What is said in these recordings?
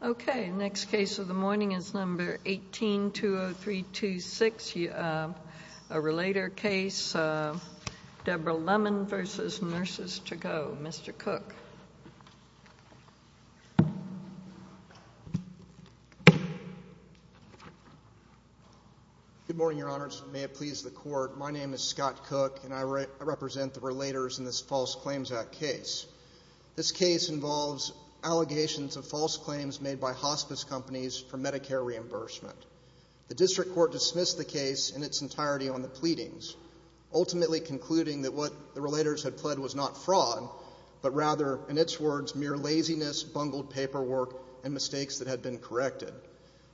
Okay, next case of the morning is number 18-20326, a relator case, Deborah Lemon v. Nurses To Go. Mr. Cook? Good morning, Your Honors. May it please the Court, my name is Scott Cook, and I represent the relators in this False Claims Act case. This case involves allegations of false claims made by hospice companies for Medicare reimbursement. The District Court dismissed the case in its entirety on the pleadings, ultimately concluding that what the relators had pled was not fraud, but rather, in its words, mere laziness, bungled paperwork, and mistakes that had been corrected.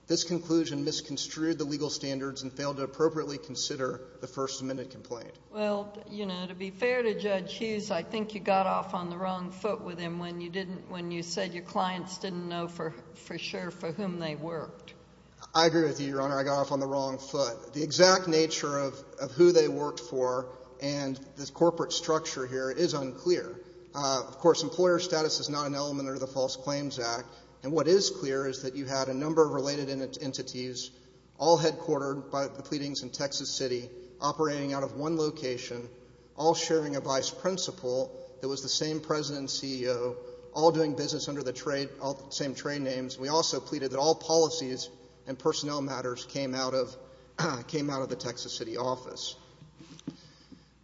This conclusion misconstrued the legal standards and failed to appropriately consider the First Amendment complaint. Well, you know, to be fair to Judge Hughes, I think you got off on the wrong foot with him when you said your clients didn't know for sure for whom they worked. I agree with you, Your Honor, I got off on the wrong foot. The exact nature of who they worked for and the corporate structure here is unclear. Of course, employer status is not an element of the False Claims Act, and what is clear is that you had a number of related entities all headquartered by the pleadings in Texas City, operating out of one location, all sharing a vice principal that was the same president and CEO, all doing business under the same trade names. We also concluded that all policies and personnel matters came out of the Texas City office.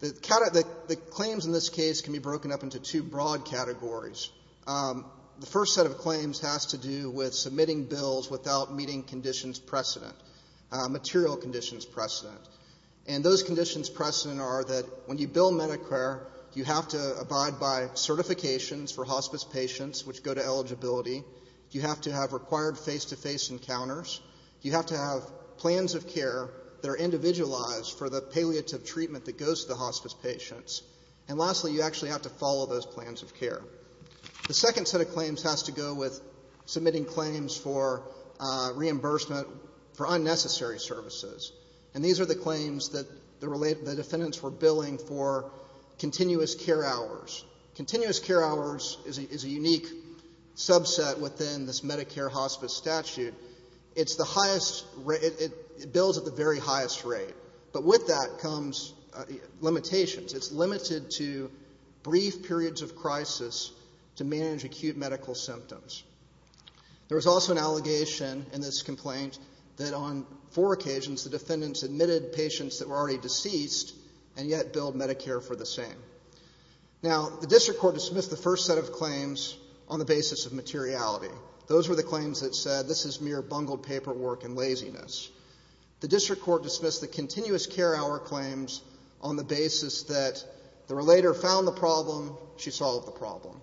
The claims in this case can be broken up into two broad categories. The first set of claims has to do with submitting bills without meeting conditions precedent, material conditions precedent. And those conditions precedent are that when you bill Medicare, you have to abide by certifications for hospice patients, which go to eligibility. You have to have required face-to-face encounters. You have to have plans of care that are individualized for the palliative treatment that goes to the hospice patients. And lastly, you actually have to follow those plans of care. The second set of claims has to go with submitting claims for reimbursement for unnecessary services. And these are the claims that the defendants were billing for continuous care hours. Continuous care hours is a unique subset within this Medicare hospice statute. It's the highest, it bills at the very highest rate. But with that comes limitations. It's limited to brief periods of crisis to manage acute medical symptoms. There was also an allegation in this complaint that on four occasions the defendants admitted patients that were already deceased and yet billed Medicare for the same. Now the district court dismissed the first set of claims on the basis of materiality. Those were the claims that said this is mere bungled paperwork and laziness. The district court dismissed the continuous care hour claims on the basis that the relator found the problem, she solved the problem.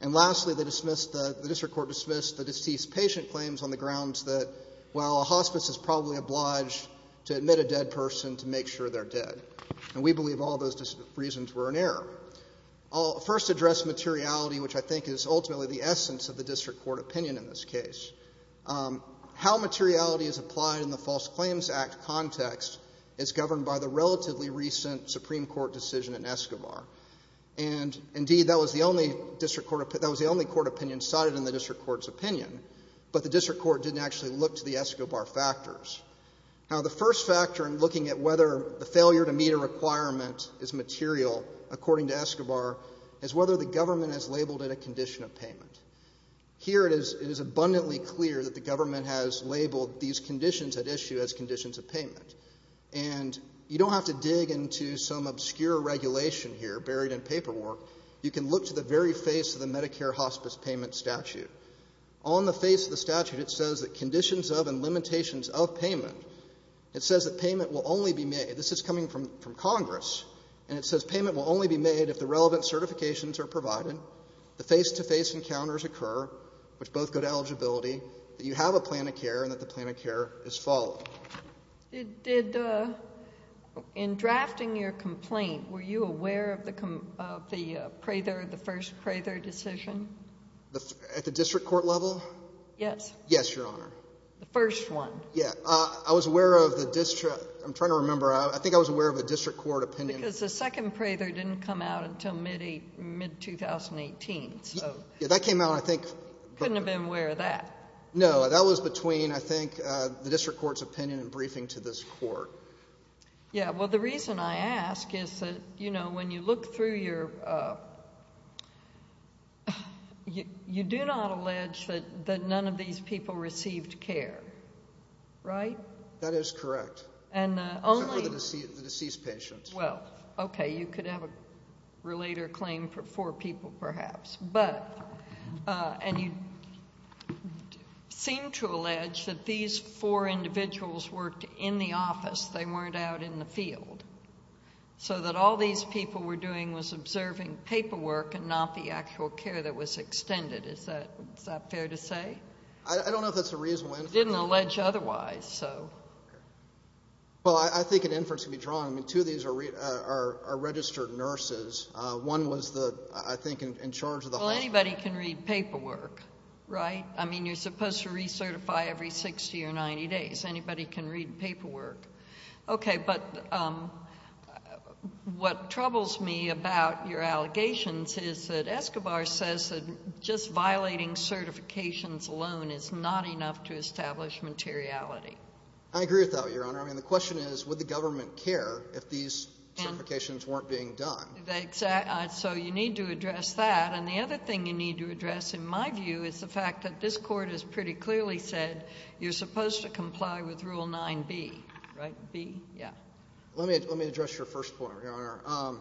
And lastly, the district court dismissed the deceased patient claims on the grounds that, well, a hospice is probably obliged to admit a dead person to make sure they're dead. And we believe all those reasons were in error. I'll first address materiality, which I think is ultimately the essence of the district court opinion in this case. How materiality is applied in the False Claims Act context is governed by the relatively recent Supreme Court decision in Escobar. And indeed, that was the only district court opinion, that was the only court opinion cited in the district court's opinion. But the district court didn't actually look to the Escobar factors. Now the first factor in looking at whether the failure to meet a requirement is material, according to Escobar, is whether the government has labeled it a condition of payment. Here it is abundantly clear that the government has labeled these conditions at issue as conditions of payment. And you don't have to dig into some obscure regulation here buried in paperwork. You can look to the very face of the Medicare Hospice Payment Statute. On the face of the statute, it says that conditions of and limitations of payment, it says that payment will only be made, this is coming from Congress, and it says payment will only be made if the relevant certifications are provided, the face-to-face encounters occur, which both go to eligibility, that you have a plan of care, and that the plan of care is followed. Did the — in drafting your complaint, were you aware of the — of the Prather, the first Prather decision? At the district court level? Yes. Yes, Your Honor. The first one. Yes. I was aware of the — I'm trying to remember. I think I was aware of the district court opinion. Because the second Prather didn't come out until mid-2018, so — Yeah, that came out, I think — Couldn't have been aware of that. No, that was between, I think, the district court's opinion and briefing to this court. Yeah, well, the reason I ask is that, you know, when you look through your — you do not allege that none of these people received care, right? That is correct. And only — Except for the deceased patients. Well, okay. You could have a relator claim for four people, perhaps, but — and you seem to allege that these four individuals worked in the office. They weren't out in the field. So that all these people were doing was observing paperwork and not the actual care that was extended. Is that — is that fair to say? I don't know if that's the reason why — You didn't allege otherwise, so — Well, I think an inference could be drawn. I mean, two of these are registered nurses. One was the — I think in charge of the hospital. Well, anybody can read paperwork, right? I mean, you're supposed to recertify every 60 or 90 days. Anybody can read paperwork. Okay. But what troubles me about your allegations is that Escobar says that just violating certifications alone is not enough to establish materiality. I agree with that, Your Honor. I mean, the question is, would the government care if these certifications weren't being done? So you need to address that. And the other thing you need to address, in my view, is the fact that this Court has pretty clearly said you're supposed to comply with Rule 9b, right? B? Yeah. Let me — let me address your first point, Your Honor.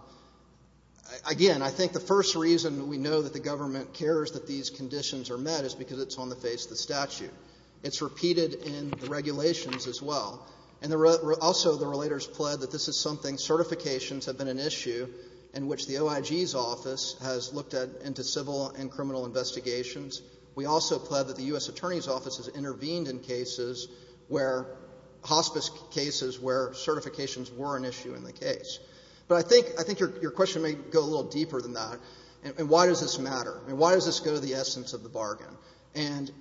Again, I think the first reason we know that the government cares that these conditions are met is because it's on the face of the statute. It's repeated in the regulations as well. And also, the relators pled that this is something — certifications have been an issue in which the OIG's office has looked at into civil and criminal investigations. We also pled that the U.S. Attorney's Office has intervened in cases where — hospice cases where certifications were an issue in the case. But I think — I think your question may go a little deeper than that. And why does this matter? I mean, why does this go to the essence of the bargain? And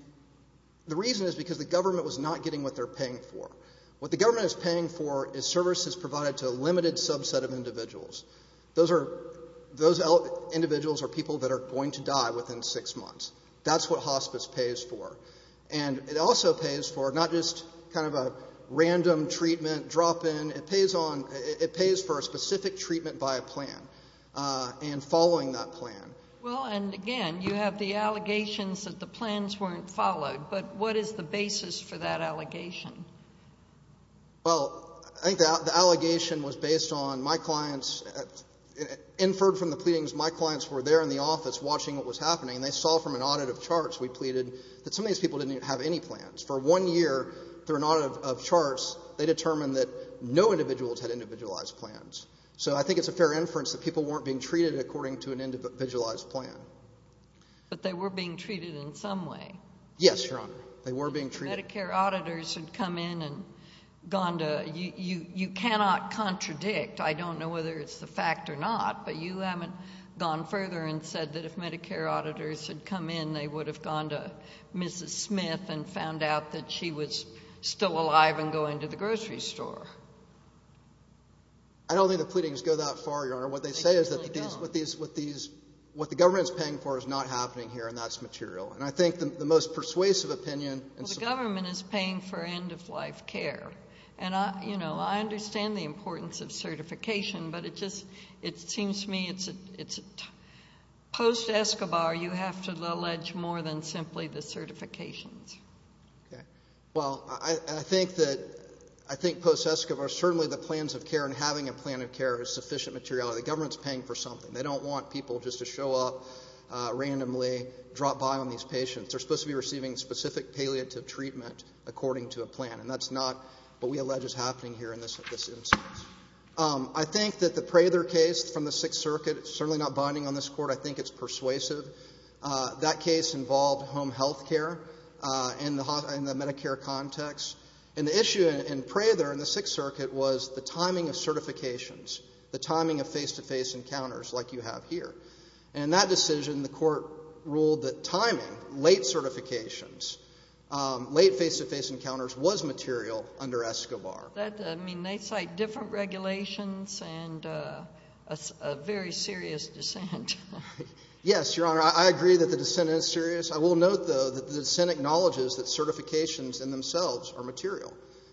the reason is because the government was not getting what they're paying for. What the government is paying for is services provided to a limited subset of individuals. Those are — those individuals are people that are going to die within six months. That's what hospice pays for. And it also pays for not just kind of a random treatment, drop-in. It pays on — it pays for a specific treatment by a plan and following that plan. Well, and again, you have the allegations that the plans weren't followed. But what is the basis for that allegation? Well, I think the allegation was based on — my clients — inferred from the pleadings, my clients were there in the office watching what was happening, and they saw from an audit of charts we pleaded that some of these people didn't have any plans. For one year, through an audit of charts, they determined that no individuals had individualized plans. So I think it's a fair inference that people weren't being treated according to an individualized plan. But they were being treated in some way. Yes, Your Honor. They were being treated. If Medicare auditors had come in and gone to — you cannot contradict — I don't know whether it's a fact or not, but you haven't gone further and said that if Medicare auditors had come in, they would have gone to Mrs. Smith and found out that she was still alive and going to the grocery store. I don't think the pleadings go that far, Your Honor. What they say is that what the government is paying for is not happening here, and that's material. And I think the most persuasive opinion — Well, the government is paying for end-of-life care. And I understand the importance of certification, but it just — it seems to me it's — post-Escobar, you have to allege more than simply the certifications. Okay. Well, I think that — I think post-Escobar, certainly the plans of care and having a plan of care is sufficient materiality. The government's paying for something. They don't want people just to show up randomly, drop by on these patients. They're supposed to be receiving specific palliative treatment according to a plan. And that's not what we allege is happening here in this instance. I think that the Prather case from the Sixth Circuit is certainly not binding on this court. I think it's persuasive. That case involved home health care in the Medicare context. And the issue in Prather in the Sixth Circuit was the timing of certifications, the timing of face-to-face encounters like you have here. And in that decision, the court ruled that timing, late certifications, late face-to-face encounters was material under Escobar. That — I mean, they cite different regulations and a very serious dissent. Yes, Your Honor, I agree that the dissent is serious. I will note, though, that the dissent acknowledges that certifications in themselves are material.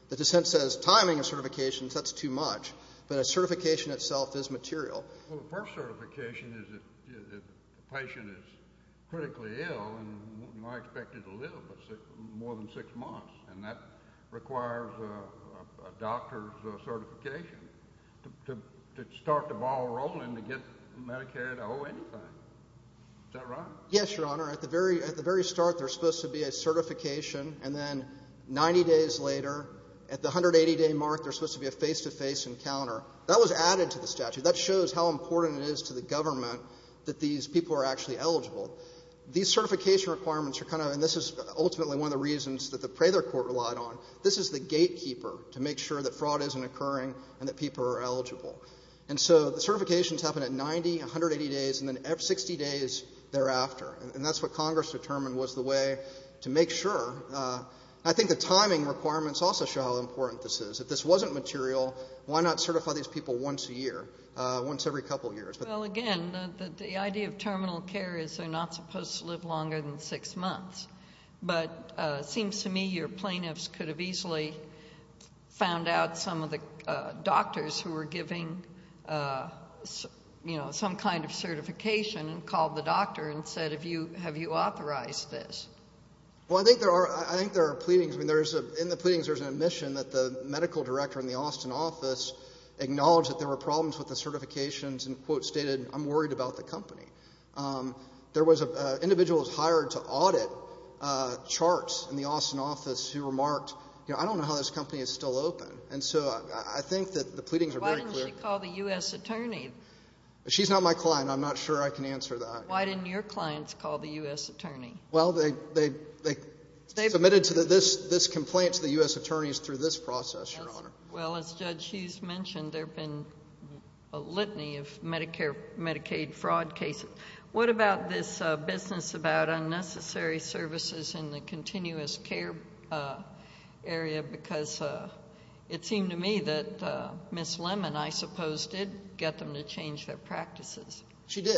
The dissent says timing of certifications, that's too much. But a certification itself is material. Well, the first certification is if the patient is critically ill and not expected to live more than six months. And that requires a doctor's certification. To start the ball rolling to get Medicare to owe anything. Is that right? Yes, Your Honor. At the very start, there's supposed to be a certification, and then 90 days later, at the 180-day mark, there's supposed to be a face-to-face encounter. That was added to the statute. That shows how important it is to the government that these people are actually eligible. These certification requirements are kind of — and this is ultimately one of the reasons that the Prather court relied on — this is the gatekeeper to make sure that fraud isn't occurring and that people are eligible. And so the certifications happen at 90, 180 days, and then 60 days thereafter. And that's what Congress determined was the way to make sure. I think the timing requirements also show how important this is. If this wasn't material, why not certify these people once a year, once every couple of years? Well, again, the idea of terminal care is they're not supposed to live longer than six months. But it seems to me your plaintiffs could have easily found out some of the doctors who were giving some kind of certification and called the doctor and said, have you authorized this? Well, I think there are pleadings. In the pleadings, there's an admission that the medical director in the Austin office acknowledged that there were problems with the certifications and stated, I'm worried about the company. There was an individual who was hired to audit charts in the Austin office who remarked, I don't know how this company is still open. And so I think that the pleadings are very clear. Why didn't she call the U.S. attorney? She's not my client. I'm not sure I can answer that. Why didn't your clients call the U.S. attorney? Well, they submitted this complaint to the U.S. attorneys through this process, Your Honor. Well, as Judge Hughes mentioned, there have been a litany of Medicare, Medicaid fraud cases. What about this business about unnecessary services in the continuous care area? Because it seemed to me that Ms. Lemon, I suppose, did get them to change their practices. She did.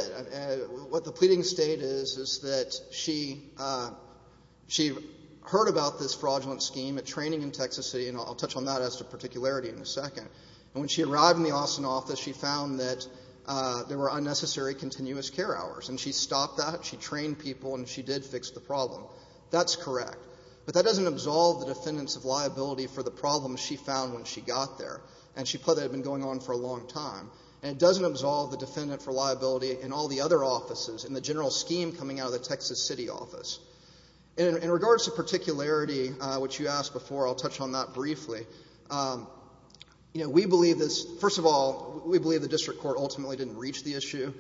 What the pleadings state is, is that she heard about this fraudulent scheme at training in particularity in a second. When she arrived in the Austin office, she found that there were unnecessary continuous care hours. And she stopped that. She trained people. And she did fix the problem. That's correct. But that doesn't absolve the defendants of liability for the problems she found when she got there. And she put that had been going on for a long time. And it doesn't absolve the defendant for liability in all the other offices in the general scheme coming out of the Texas City office. In regards to particularity, which you asked before, I'll touch on that briefly. We believe this. First of all, we believe the district court ultimately didn't reach the issue.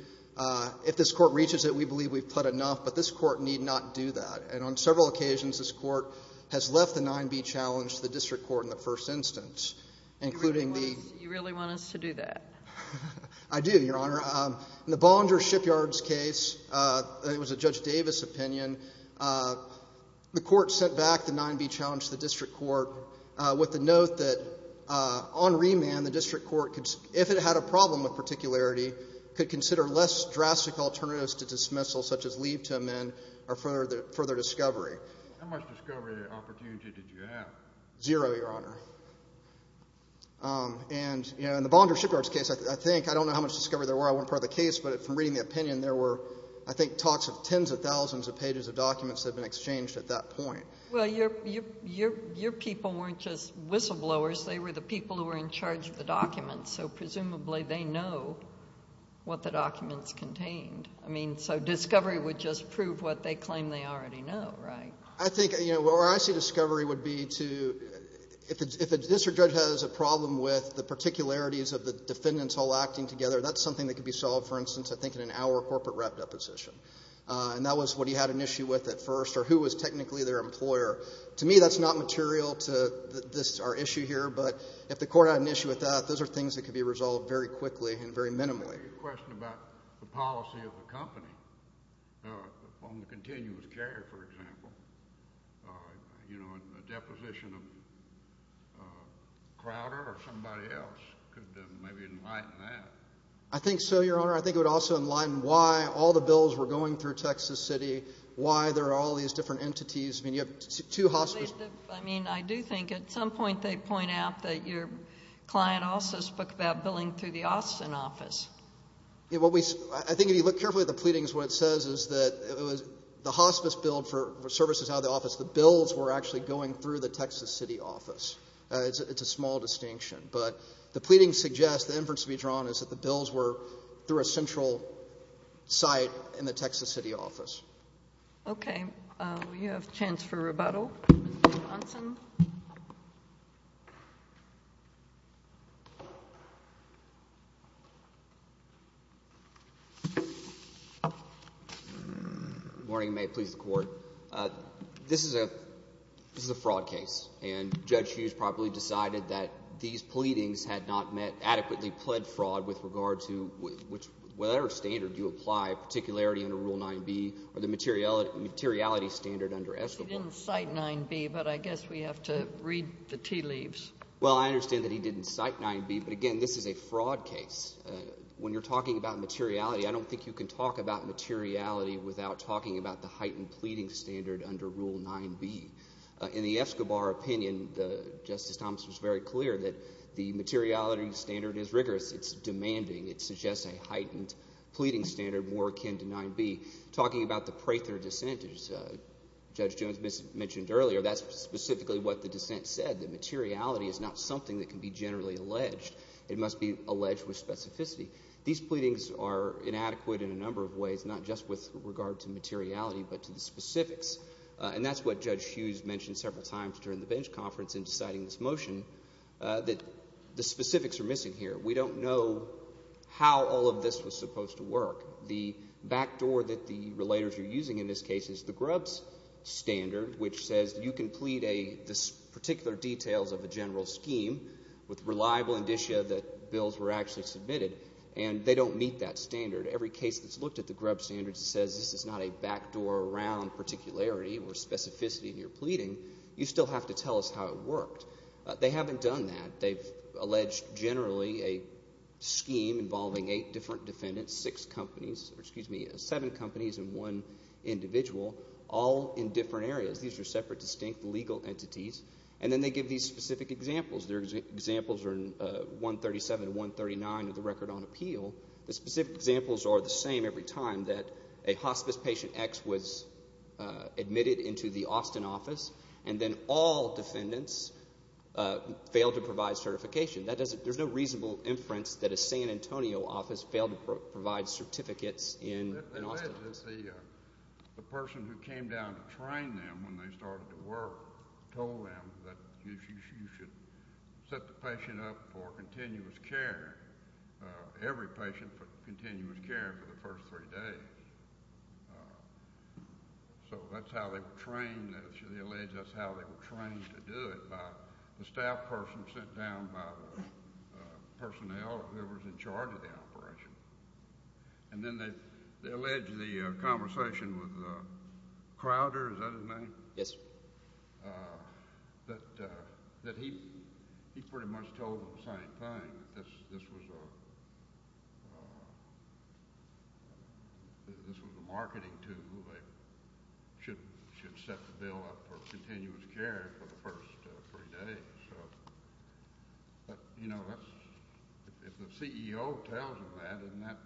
If this court reaches it, we believe we've pled enough. But this court need not do that. And on several occasions, this court has left the 9B challenge to the district court in the first instance, including the— You really want us to do that? I do, Your Honor. In the Bonder Shipyard's case, it was a Judge Davis opinion. The court sent back the 9B challenge to the district court with the note that, on remand, the district court, if it had a problem with particularity, could consider less drastic alternatives to dismissal, such as leave to amend, or further discovery. How much discovery opportunity did you have? Zero, Your Honor. And in the Bonder Shipyard's case, I think—I don't know how much discovery there were. I wasn't part of the case. But from reading the opinion, there were, I think, talks of tens of thousands of pages of documents that had been exchanged at that point. Well, your people weren't just whistleblowers. They were the people who were in charge of the documents. So presumably, they know what the documents contained. I mean, so discovery would just prove what they claim they already know, right? I think—you know, where I see discovery would be to—if a district judge has a problem with the particularities of the defendants all acting together, that's something that could be solved, for instance, I think, in an hour corporate rep deposition. And that was what he had an issue with at first, or who was technically their employer. To me, that's not material to this—our issue here. But if the court had an issue with that, those are things that could be resolved very quickly and very minimally. I have a question about the policy of the company on the continuous carrier, for example. You know, a deposition of Crowder or somebody else could maybe enlighten that. I think so, Your Honor. I think it would also enlighten why all the bills were going through Texas City, why there are all these different entities. I mean, you have two hospices— I mean, I do think at some point they point out that your client also spoke about billing through the Austin office. Yeah, what we—I think if you look carefully at the pleadings, what it says is that it was—the hospice billed for services out of the office. The bills were actually going through the Texas City office. It's a small distinction. But the pleadings suggest, the inference to be drawn is that the bills were through a central site in the Texas City office. Okay. We have a chance for rebuttal. Mr. Johnson? Good morning. May it please the Court. This is a—this is a fraud case. And Judge Hughes probably decided that these pleadings had not met adequately pled fraud with regard to—which, whatever standard you apply, particularity under Rule 9b or the materiality standard under Escobar— He didn't cite 9b, but I guess we have to read the tea leaves. Well, I understand that he didn't cite 9b, but again, this is a fraud case. When you're talking about materiality, I don't think you can talk about materiality without talking about the heightened pleading standard under Rule 9b. In the Escobar opinion, Justice Thomas was very clear that the materiality standard is rigorous. It's demanding. It suggests a heightened pleading standard more akin to 9b. Talking about the Prather dissent, as Judge Jones mentioned earlier, that's specifically what the dissent said, that materiality is not something that can be generally alleged. It must be alleged with specificity. These pleadings are inadequate in a number of ways, not just with regard to materiality, but to the specifics. And that's what Judge Hughes mentioned several times during the bench conference in citing this motion, that the specifics are missing here. We don't know how all of this was supposed to work. The backdoor that the relators are using in this case is the Grubbs standard, which says you can plead the particular details of a general scheme with reliable indicia that they don't meet that standard. Every case that's looked at the Grubbs standard says this is not a backdoor around particularity or specificity in your pleading. You still have to tell us how it worked. They haven't done that. They've alleged generally a scheme involving eight different defendants, seven companies and one individual, all in different areas. These are separate, distinct legal entities. And then they give these specific examples. Their examples are in 137 and 139 of the Record on Appeal. The specific examples are the same every time, that a hospice patient X was admitted into the Austin office, and then all defendants failed to provide certification. There's no reasonable inference that a San Antonio office failed to provide certificates in Austin. They alleged that the person who came down to train them when they started to work told them that you should set the patient up for continuous care, every patient for continuous care for the first three days. So that's how they were trained. They alleged that's how they were trained to do it, by the staff person sent down by the personnel who was in charge of the operation. And then they alleged the conversation with Crowder, is that his name? Yes, sir. That he pretty much told them the same thing, that this was a marketing tool, they should set the bill up for continuous care for the first three days. But, you know, if the CEO tells them that, isn't that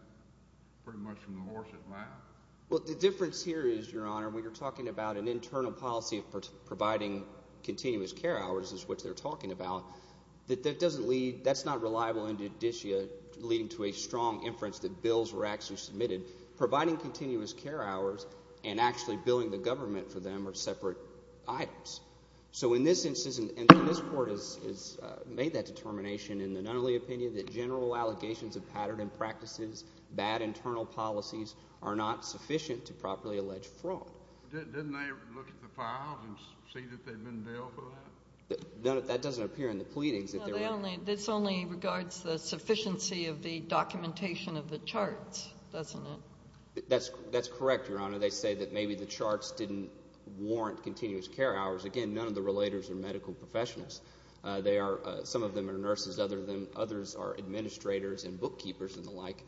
pretty much from the horse's mouth? Well, the difference here is, Your Honor, when you're talking about an internal policy of providing continuous care hours, is what they're talking about, that doesn't lead, that's not reliable in judicia, leading to a strong inference that bills were actually submitted. Providing continuous care hours and actually billing the government for them are separate items. So in this instance, and this Court has made that determination in the Nunnally opinion, that general allegations of pattern and practices, bad internal policies, are not sufficient to properly allege fraud. Didn't they look at the files and see that they've been billed for that? That doesn't appear in the pleadings. No, this only regards the sufficiency of the documentation of the charts, doesn't it? That's correct, Your Honor. They say that maybe the charts didn't warrant continuous care hours. Again, none of the relators are medical professionals. Some of them are nurses, others are administrators and bookkeepers and the like.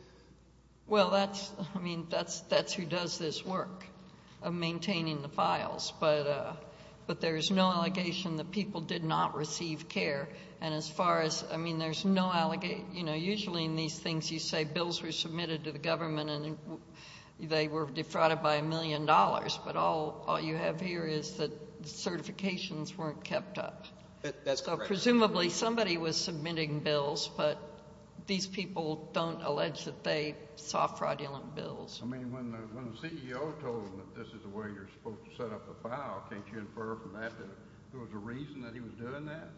Well, that's, I mean, that's who does this work of maintaining the files. But there is no allegation that people did not receive care. And as far as, I mean, there's no allegation, you know, usually in these things you say it's counted by a million dollars, but all you have here is that the certifications weren't kept up. That's correct. So presumably somebody was submitting bills, but these people don't allege that they saw fraudulent bills. I mean, when the CEO told them that this is the way you're supposed to set up the file, can't you infer from that that there was a reason that he was doing that?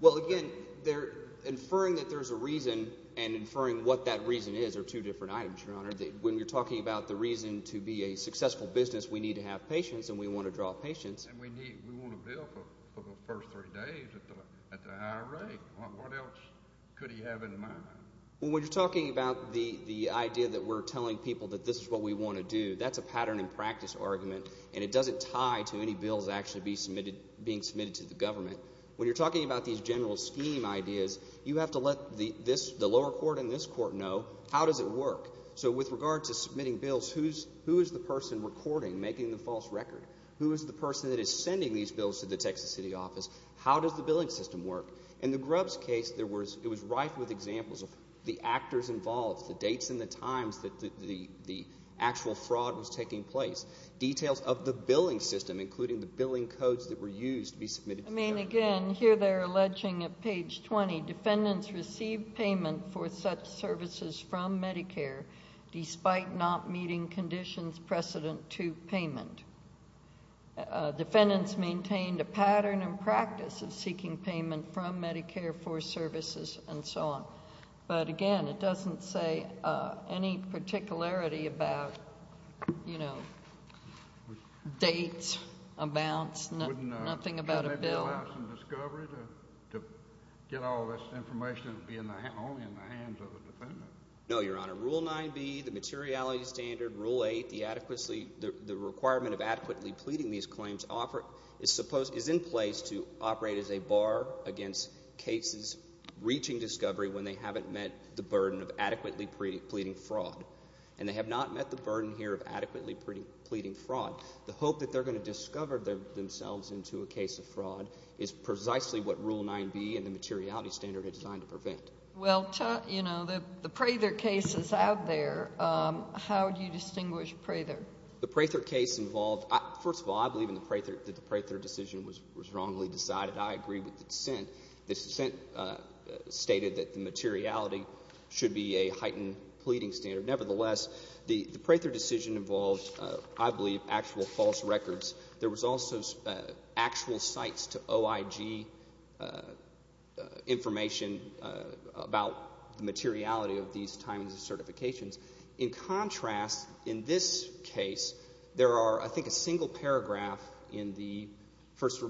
Well, again, they're inferring that there's a reason and inferring what that reason is are two different items, Your Honor. When you're talking about the reason to be a successful business, we need to have patience and we want to draw patience. And we want a bill for the first three days at the higher rate. What else could he have in mind? Well, when you're talking about the idea that we're telling people that this is what we want to do, that's a pattern and practice argument, and it doesn't tie to any bills actually being submitted to the government. When you're talking about these general scheme ideas, you have to let the lower court and this court know, how does it work? So with regard to submitting bills, who is the person recording, making the false record? Who is the person that is sending these bills to the Texas City office? How does the billing system work? In the Grubbs case, it was rife with examples of the actors involved, the dates and the times that the actual fraud was taking place. Details of the billing system, including the billing codes that were used to be submitted to the government. I mean, again, here they're alleging at page 20, defendants received payment for such services from Medicare, despite not meeting conditions precedent to payment. Defendants maintained a pattern and practice of seeking payment from Medicare for services and so on. But again, it doesn't say any particularity about dates, amounts, nothing about a bill. Wouldn't it allow some discovery to get all this information and be only in the hands of a defendant? No, Your Honor. Rule 9B, the materiality standard, Rule 8, the requirement of adequately pleading these claims, is in place to operate as a bar against cases reaching discovery when they haven't met the burden of adequately pleading fraud. And they have not met the burden here of adequately pleading fraud. The hope that they're going to discover themselves into a case of fraud is precisely what Rule 9B and the materiality standard are designed to prevent. Well, you know, the Prather case is out there. How do you distinguish Prather? The Prather case involved, first of all, I believe in the Prather, that the Prather decision was wrongly decided. I agree with the dissent. The dissent stated that the materiality should be a heightened pleading standard. Nevertheless, the Prather decision involved, I believe, actual false records. There was also actual cites to OIG information about the materiality of these timings and certifications. In contrast, in this case, there are, I think, a single paragraph in the first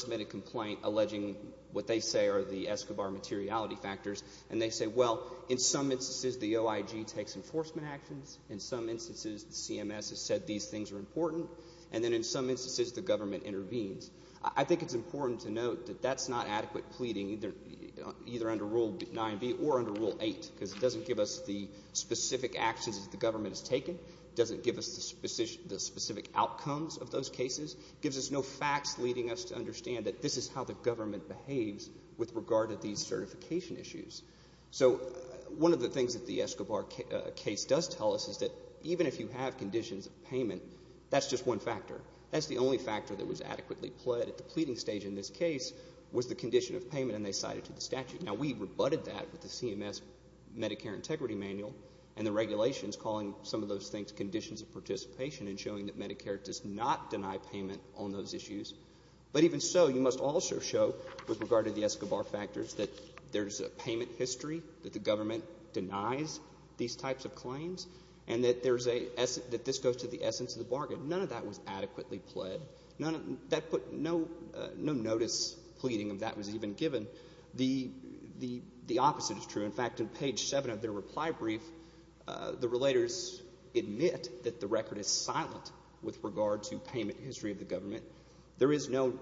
submitted complaint alleging what they say are the Escobar materiality factors. And they say, well, in some instances, the OIG takes enforcement actions. In some instances, the CMS has said these things are important. And then in some instances, the government intervenes. I think it's important to note that that's not adequate pleading either under Rule 9B or under Rule 8. Because it doesn't give us the specific actions that the government has taken. It doesn't give us the specific outcomes of those cases. It gives us no facts leading us to understand that this is how the government behaves with regard to these certification issues. So one of the things that the Escobar case does tell us is that even if you have conditions of payment, that's just one factor. That's the only factor that was adequately pled at the pleading stage in this case was the condition of payment. And they cited to the statute. Now, we rebutted that with the CMS Medicare Integrity Manual. And the regulations calling some of those things conditions of participation and showing that Medicare does not deny payment on those issues. But even so, you must also show with regard to the Escobar factors that there's a payment history. That the government denies these types of claims. And that this goes to the essence of the bargain. None of that was adequately pled. No notice pleading of that was even given. The opposite is true. In fact, in page 7 of their reply brief, the relators admit that the record is silent with regard to payment history of the government. There is no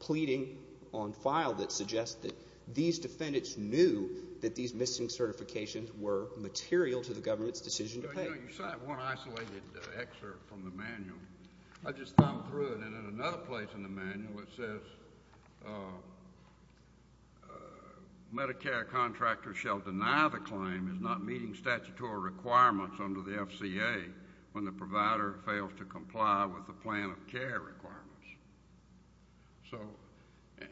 pleading on file that suggests that these defendants knew that these missing certifications were material to the government's decision to pay. You cite one isolated excerpt from the manual. I just thumbed through it. And in another place in the manual, it says, Medicare contractors shall deny the claim is not meeting statutory requirements under the FCA when the provider fails to comply with the plan of care requirements. So,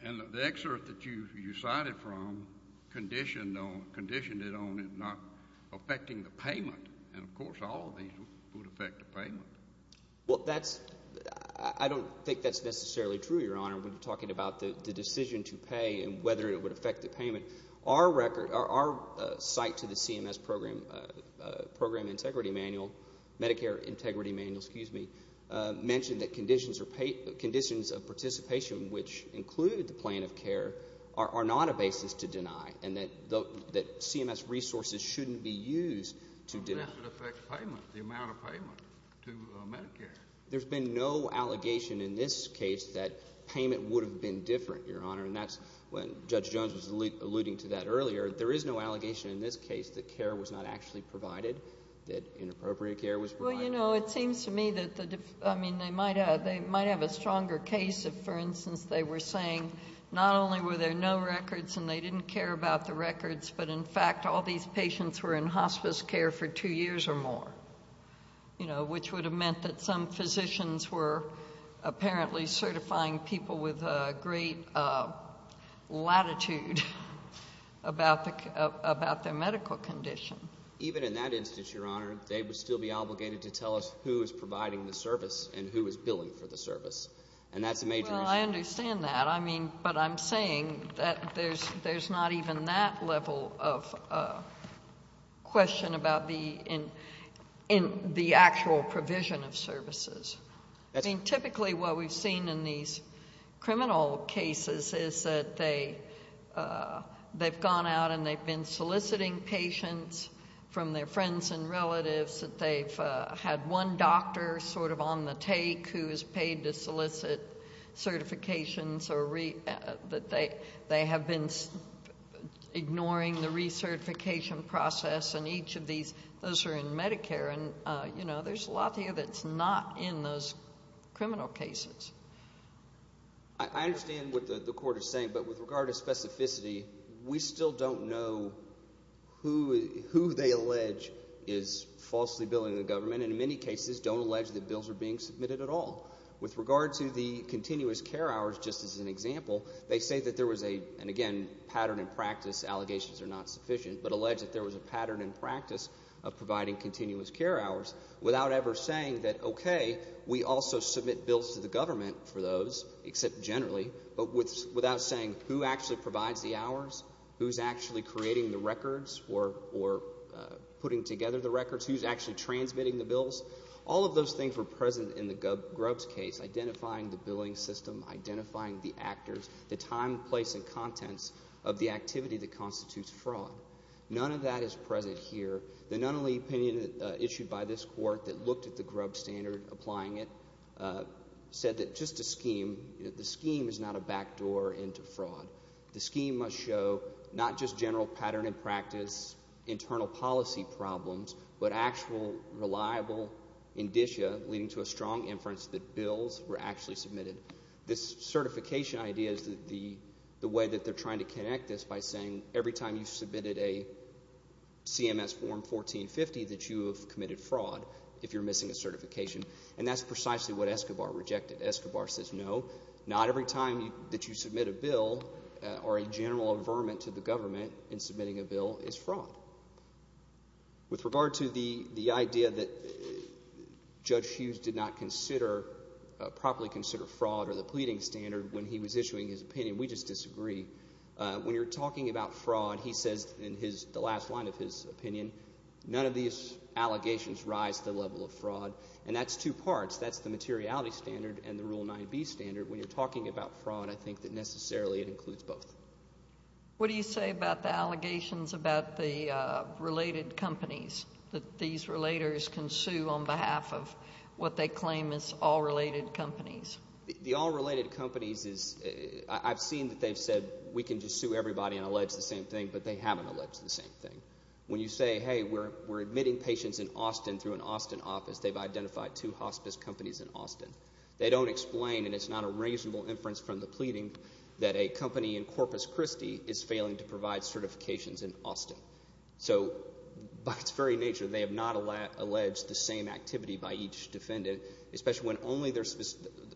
and the excerpt that you cited from conditioned it on it not affecting the payment. And, of course, all of these would affect the payment. Well, that's, I don't think that's necessarily true, Your Honor, when you're talking about the decision to pay and whether it would affect the payment. Our site to the CMS program integrity manual, Medicare integrity manual, excuse me, mentioned that conditions of participation, which include the plan of care, are not a basis to deny. And that CMS resources shouldn't be used to deny. The amount of payment to Medicare. There's been no allegation in this case that payment would have been different, Your Honor. And that's when Judge Jones was alluding to that earlier. There is no allegation in this case that care was not actually provided, that inappropriate care was provided. Well, you know, it seems to me that, I mean, they might have a stronger case if, for instance, they were saying not only were there no records and they didn't care about the records, but in fact all these patients were in hospice care for two years or more. You know, which would have meant that some physicians were apparently certifying people with great latitude about their medical condition. Even in that instance, Your Honor, they would still be obligated to tell us who is providing the service and who is billing for the service. And that's a major issue. I understand that. I mean, but I'm saying that there's not even that level of question about the actual provision of services. I mean, typically what we've seen in these criminal cases is that they've gone out and they've been soliciting patients from their friends and relatives. That they've had one doctor sort of on the take who is paid to solicit certifications. Or that they have been ignoring the recertification process. And each of these, those are in Medicare. And, you know, there's a lot here that's not in those criminal cases. I understand what the court is saying. But with regard to specificity, we still don't know who they allege is falsely billing the government. And in many cases don't allege that bills are being submitted at all. With regard to the continuous care hours, just as an example, they say that there was a, and again, pattern and practice allegations are not sufficient, but allege that there was a pattern and practice of providing continuous care hours without ever saying that, okay, we also submit bills to the government for those, except generally, but without saying who actually provides the hours, who's actually creating the records or putting together the records, who's actually transmitting the bills. All of those things were present in the Grubbs case, identifying the billing system, identifying the actors, the time, place, and contents of the activity that constitutes fraud. None of that is present here. The Nunnally opinion issued by this court that looked at the Grubbs standard, applying it, said that just a scheme, the scheme is not a backdoor into fraud. The scheme must show not just general pattern and practice, internal policy problems, but actual reliable indicia leading to a strong inference that bills were actually submitted. This certification idea is the way that they're trying to connect this by saying, every time you've submitted a CMS form 1450 that you have committed fraud, if you're missing a certification, and that's precisely what Escobar rejected. Escobar says, no, not every time that you submit a bill or a general averment to the government in submitting a bill is fraud. With regard to the idea that Judge Hughes did not consider, properly consider, fraud or the pleading standard when he was issuing his opinion, we just disagree. When you're talking about fraud, he says in the last line of his opinion, none of these allegations rise to the level of fraud, and that's two parts. That's the materiality standard and the Rule 9b standard. When you're talking about fraud, I think that necessarily it includes both. What do you say about the allegations about the related companies, that these relators can sue on behalf of what they claim is all related companies? The all related companies is, I've seen that they've said, we can just sue everybody and allege the same thing, but they haven't alleged the same thing. When you say, hey, we're admitting patients in Austin through an Austin office, they've identified two hospice companies in Austin. They don't explain, and it's not a reasonable inference from the pleading, that a company in Corpus Christi is failing to provide certifications in Austin. So, by its very nature, they have not alleged the same activity by each defendant, especially when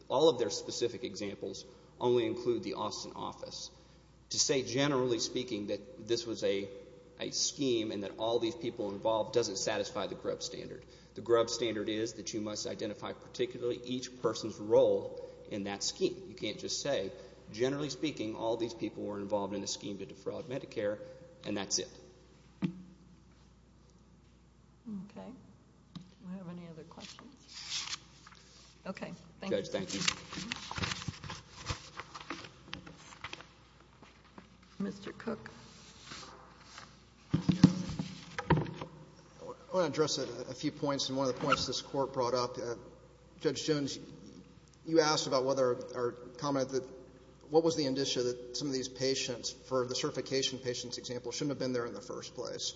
all of their specific examples only include the Austin office. To say, generally speaking, that this was a scheme and that all these people were involved, doesn't satisfy the Grubb standard. The Grubb standard is that you must identify particularly each person's role in that scheme. You can't just say, generally speaking, all these people were involved in a scheme to defraud Medicare, and that's it. Okay. Do we have any other questions? Okay. Thank you. Judge, thank you. Mr. Cook. I want to address a few points, and one of the points this Court brought up. Judge Jones, you asked about whether, or commented, what was the indicia that some of these patients, for the certification patient's example, shouldn't have been there in the first place.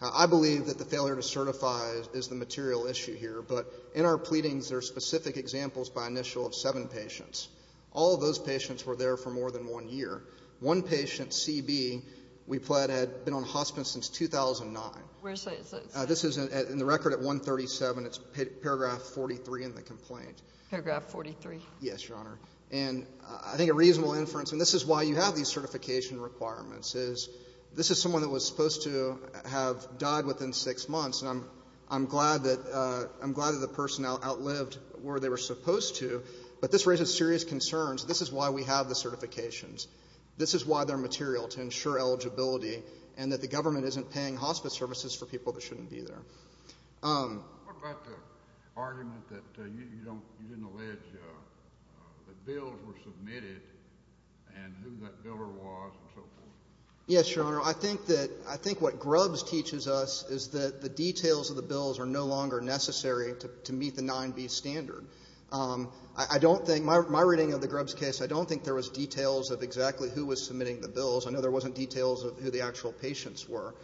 I believe that the failure to certify is the material issue here, but in our pleadings, there are specific examples by initial of seven patients. All of those patients were there for more than one year. One patient, C.B., we pled, had been on hospice since 2009. This is in the record at 137. It's paragraph 43 in the complaint. Paragraph 43. Yes, Your Honor. And I think a reasonable inference, and this is why you have these certification requirements, is this is someone that was supposed to have died within six months, and I'm glad that the personnel outlived where they were supposed to, but this raises serious concerns. This is why we have the certifications. This is why they're material, to ensure eligibility, and that the government isn't paying hospice services for people that shouldn't be there. What about the argument that you didn't allege that bills were submitted, and who that biller was, and so forth? Yes, Your Honor. I think what Grubbs teaches us is that the details of the bills are no longer necessary to meet the 9B standard. My reading of the Grubbs case, I don't think there was details of exactly who was submitting the bills. I know there wasn't details of who the actual patients were.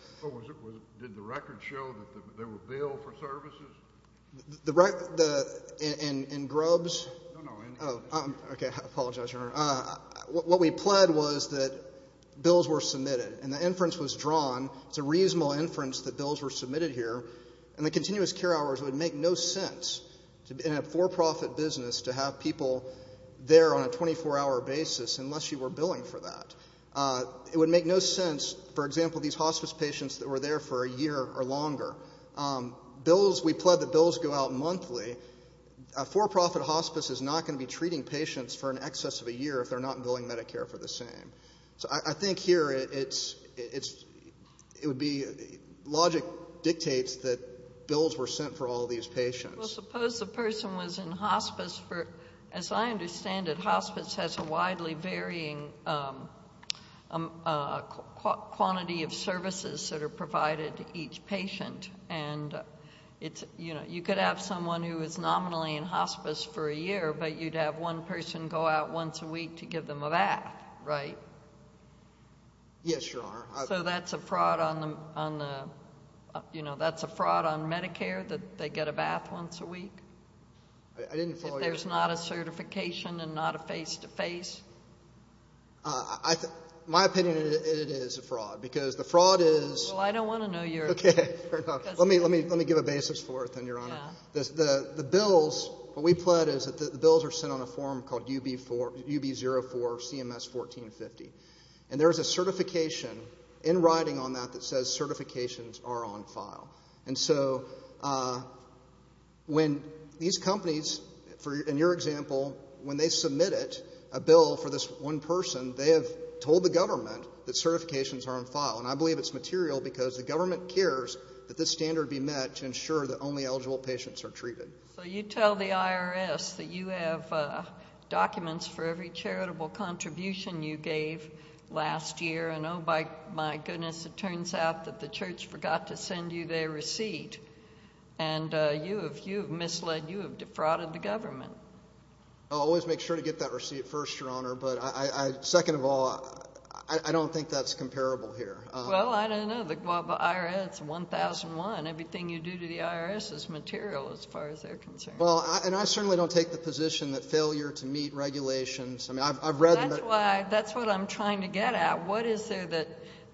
Did the record show that they were billed for services? In Grubbs? No, no. Okay, I apologize, Your Honor. What we pled was that bills were submitted, and the inference was drawn. It's a reasonable inference that bills were submitted here, and the continuous care hours would make no sense in a for-profit business to have people there on a 24-hour basis, unless you were billing for that. It would make no sense, for example, these hospice patients that were there for a year or longer. We pled that bills go out monthly. A for-profit hospice is not going to be treating patients for an excess of a year if they're not billing Medicare for the same. So I think here it would be logic dictates that bills were sent for all these patients. Well, suppose the person was in hospice for, as I understand it, hospice has a widely varying quantity of services that are provided to each patient. You could have someone who is nominally in hospice for a year, but you'd have one person go out once a week to give them a bath, right? Yes, Your Honor. So that's a fraud on Medicare that they get a bath once a week? I didn't follow your question. If there's not a certification and not a face-to-face? In my opinion, it is a fraud, because the fraud is— Well, I don't want to know your opinion. Let me give a basis for it then, Your Honor. The bills, what we pled is that the bills are sent on a form called UB 04 CMS 1450. And there is a certification in writing on that that says certifications are on file. And so when these companies, in your example, when they submit it, a bill for this one person, And I believe it's material because the government cares that this standard be met to ensure that only eligible patients are treated. So you tell the IRS that you have documents for every charitable contribution you gave last year, and oh my goodness, it turns out that the church forgot to send you their receipt. And you have misled, you have defrauded the government. But I, second of all, I don't think that's comparable here. Well, I don't know. The IRS, 1001, everything you do to the IRS is material as far as they're concerned. Well, and I certainly don't take the position that failure to meet regulations— That's what I'm trying to get at. What is there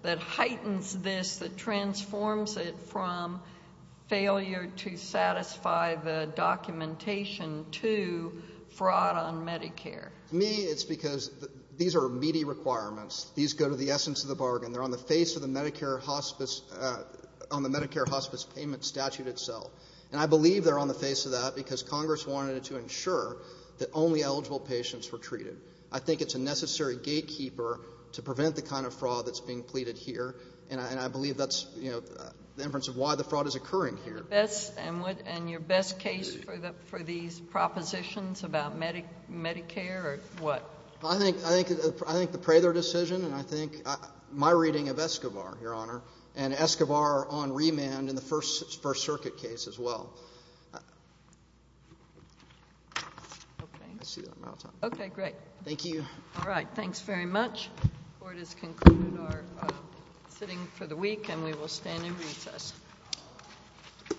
that heightens this, that transforms it from failure to satisfy the documentation to fraud on Medicare? To me, it's because these are meaty requirements. These go to the essence of the bargain. They're on the face of the Medicare hospice—on the Medicare hospice payment statute itself. And I believe they're on the face of that because Congress wanted to ensure that only eligible patients were treated. I think it's a necessary gatekeeper to prevent the kind of fraud that's being pleaded here. And I believe that's, you know, the inference of why the fraud is occurring here. And your best case for these propositions about Medicare are what? I think the Prather decision and I think my reading of Escobar, Your Honor. And Escobar on remand in the First Circuit case as well. Okay, great. Thank you. All right. Thanks very much. Court has concluded our sitting for the week and we will stand in recess. Thank you.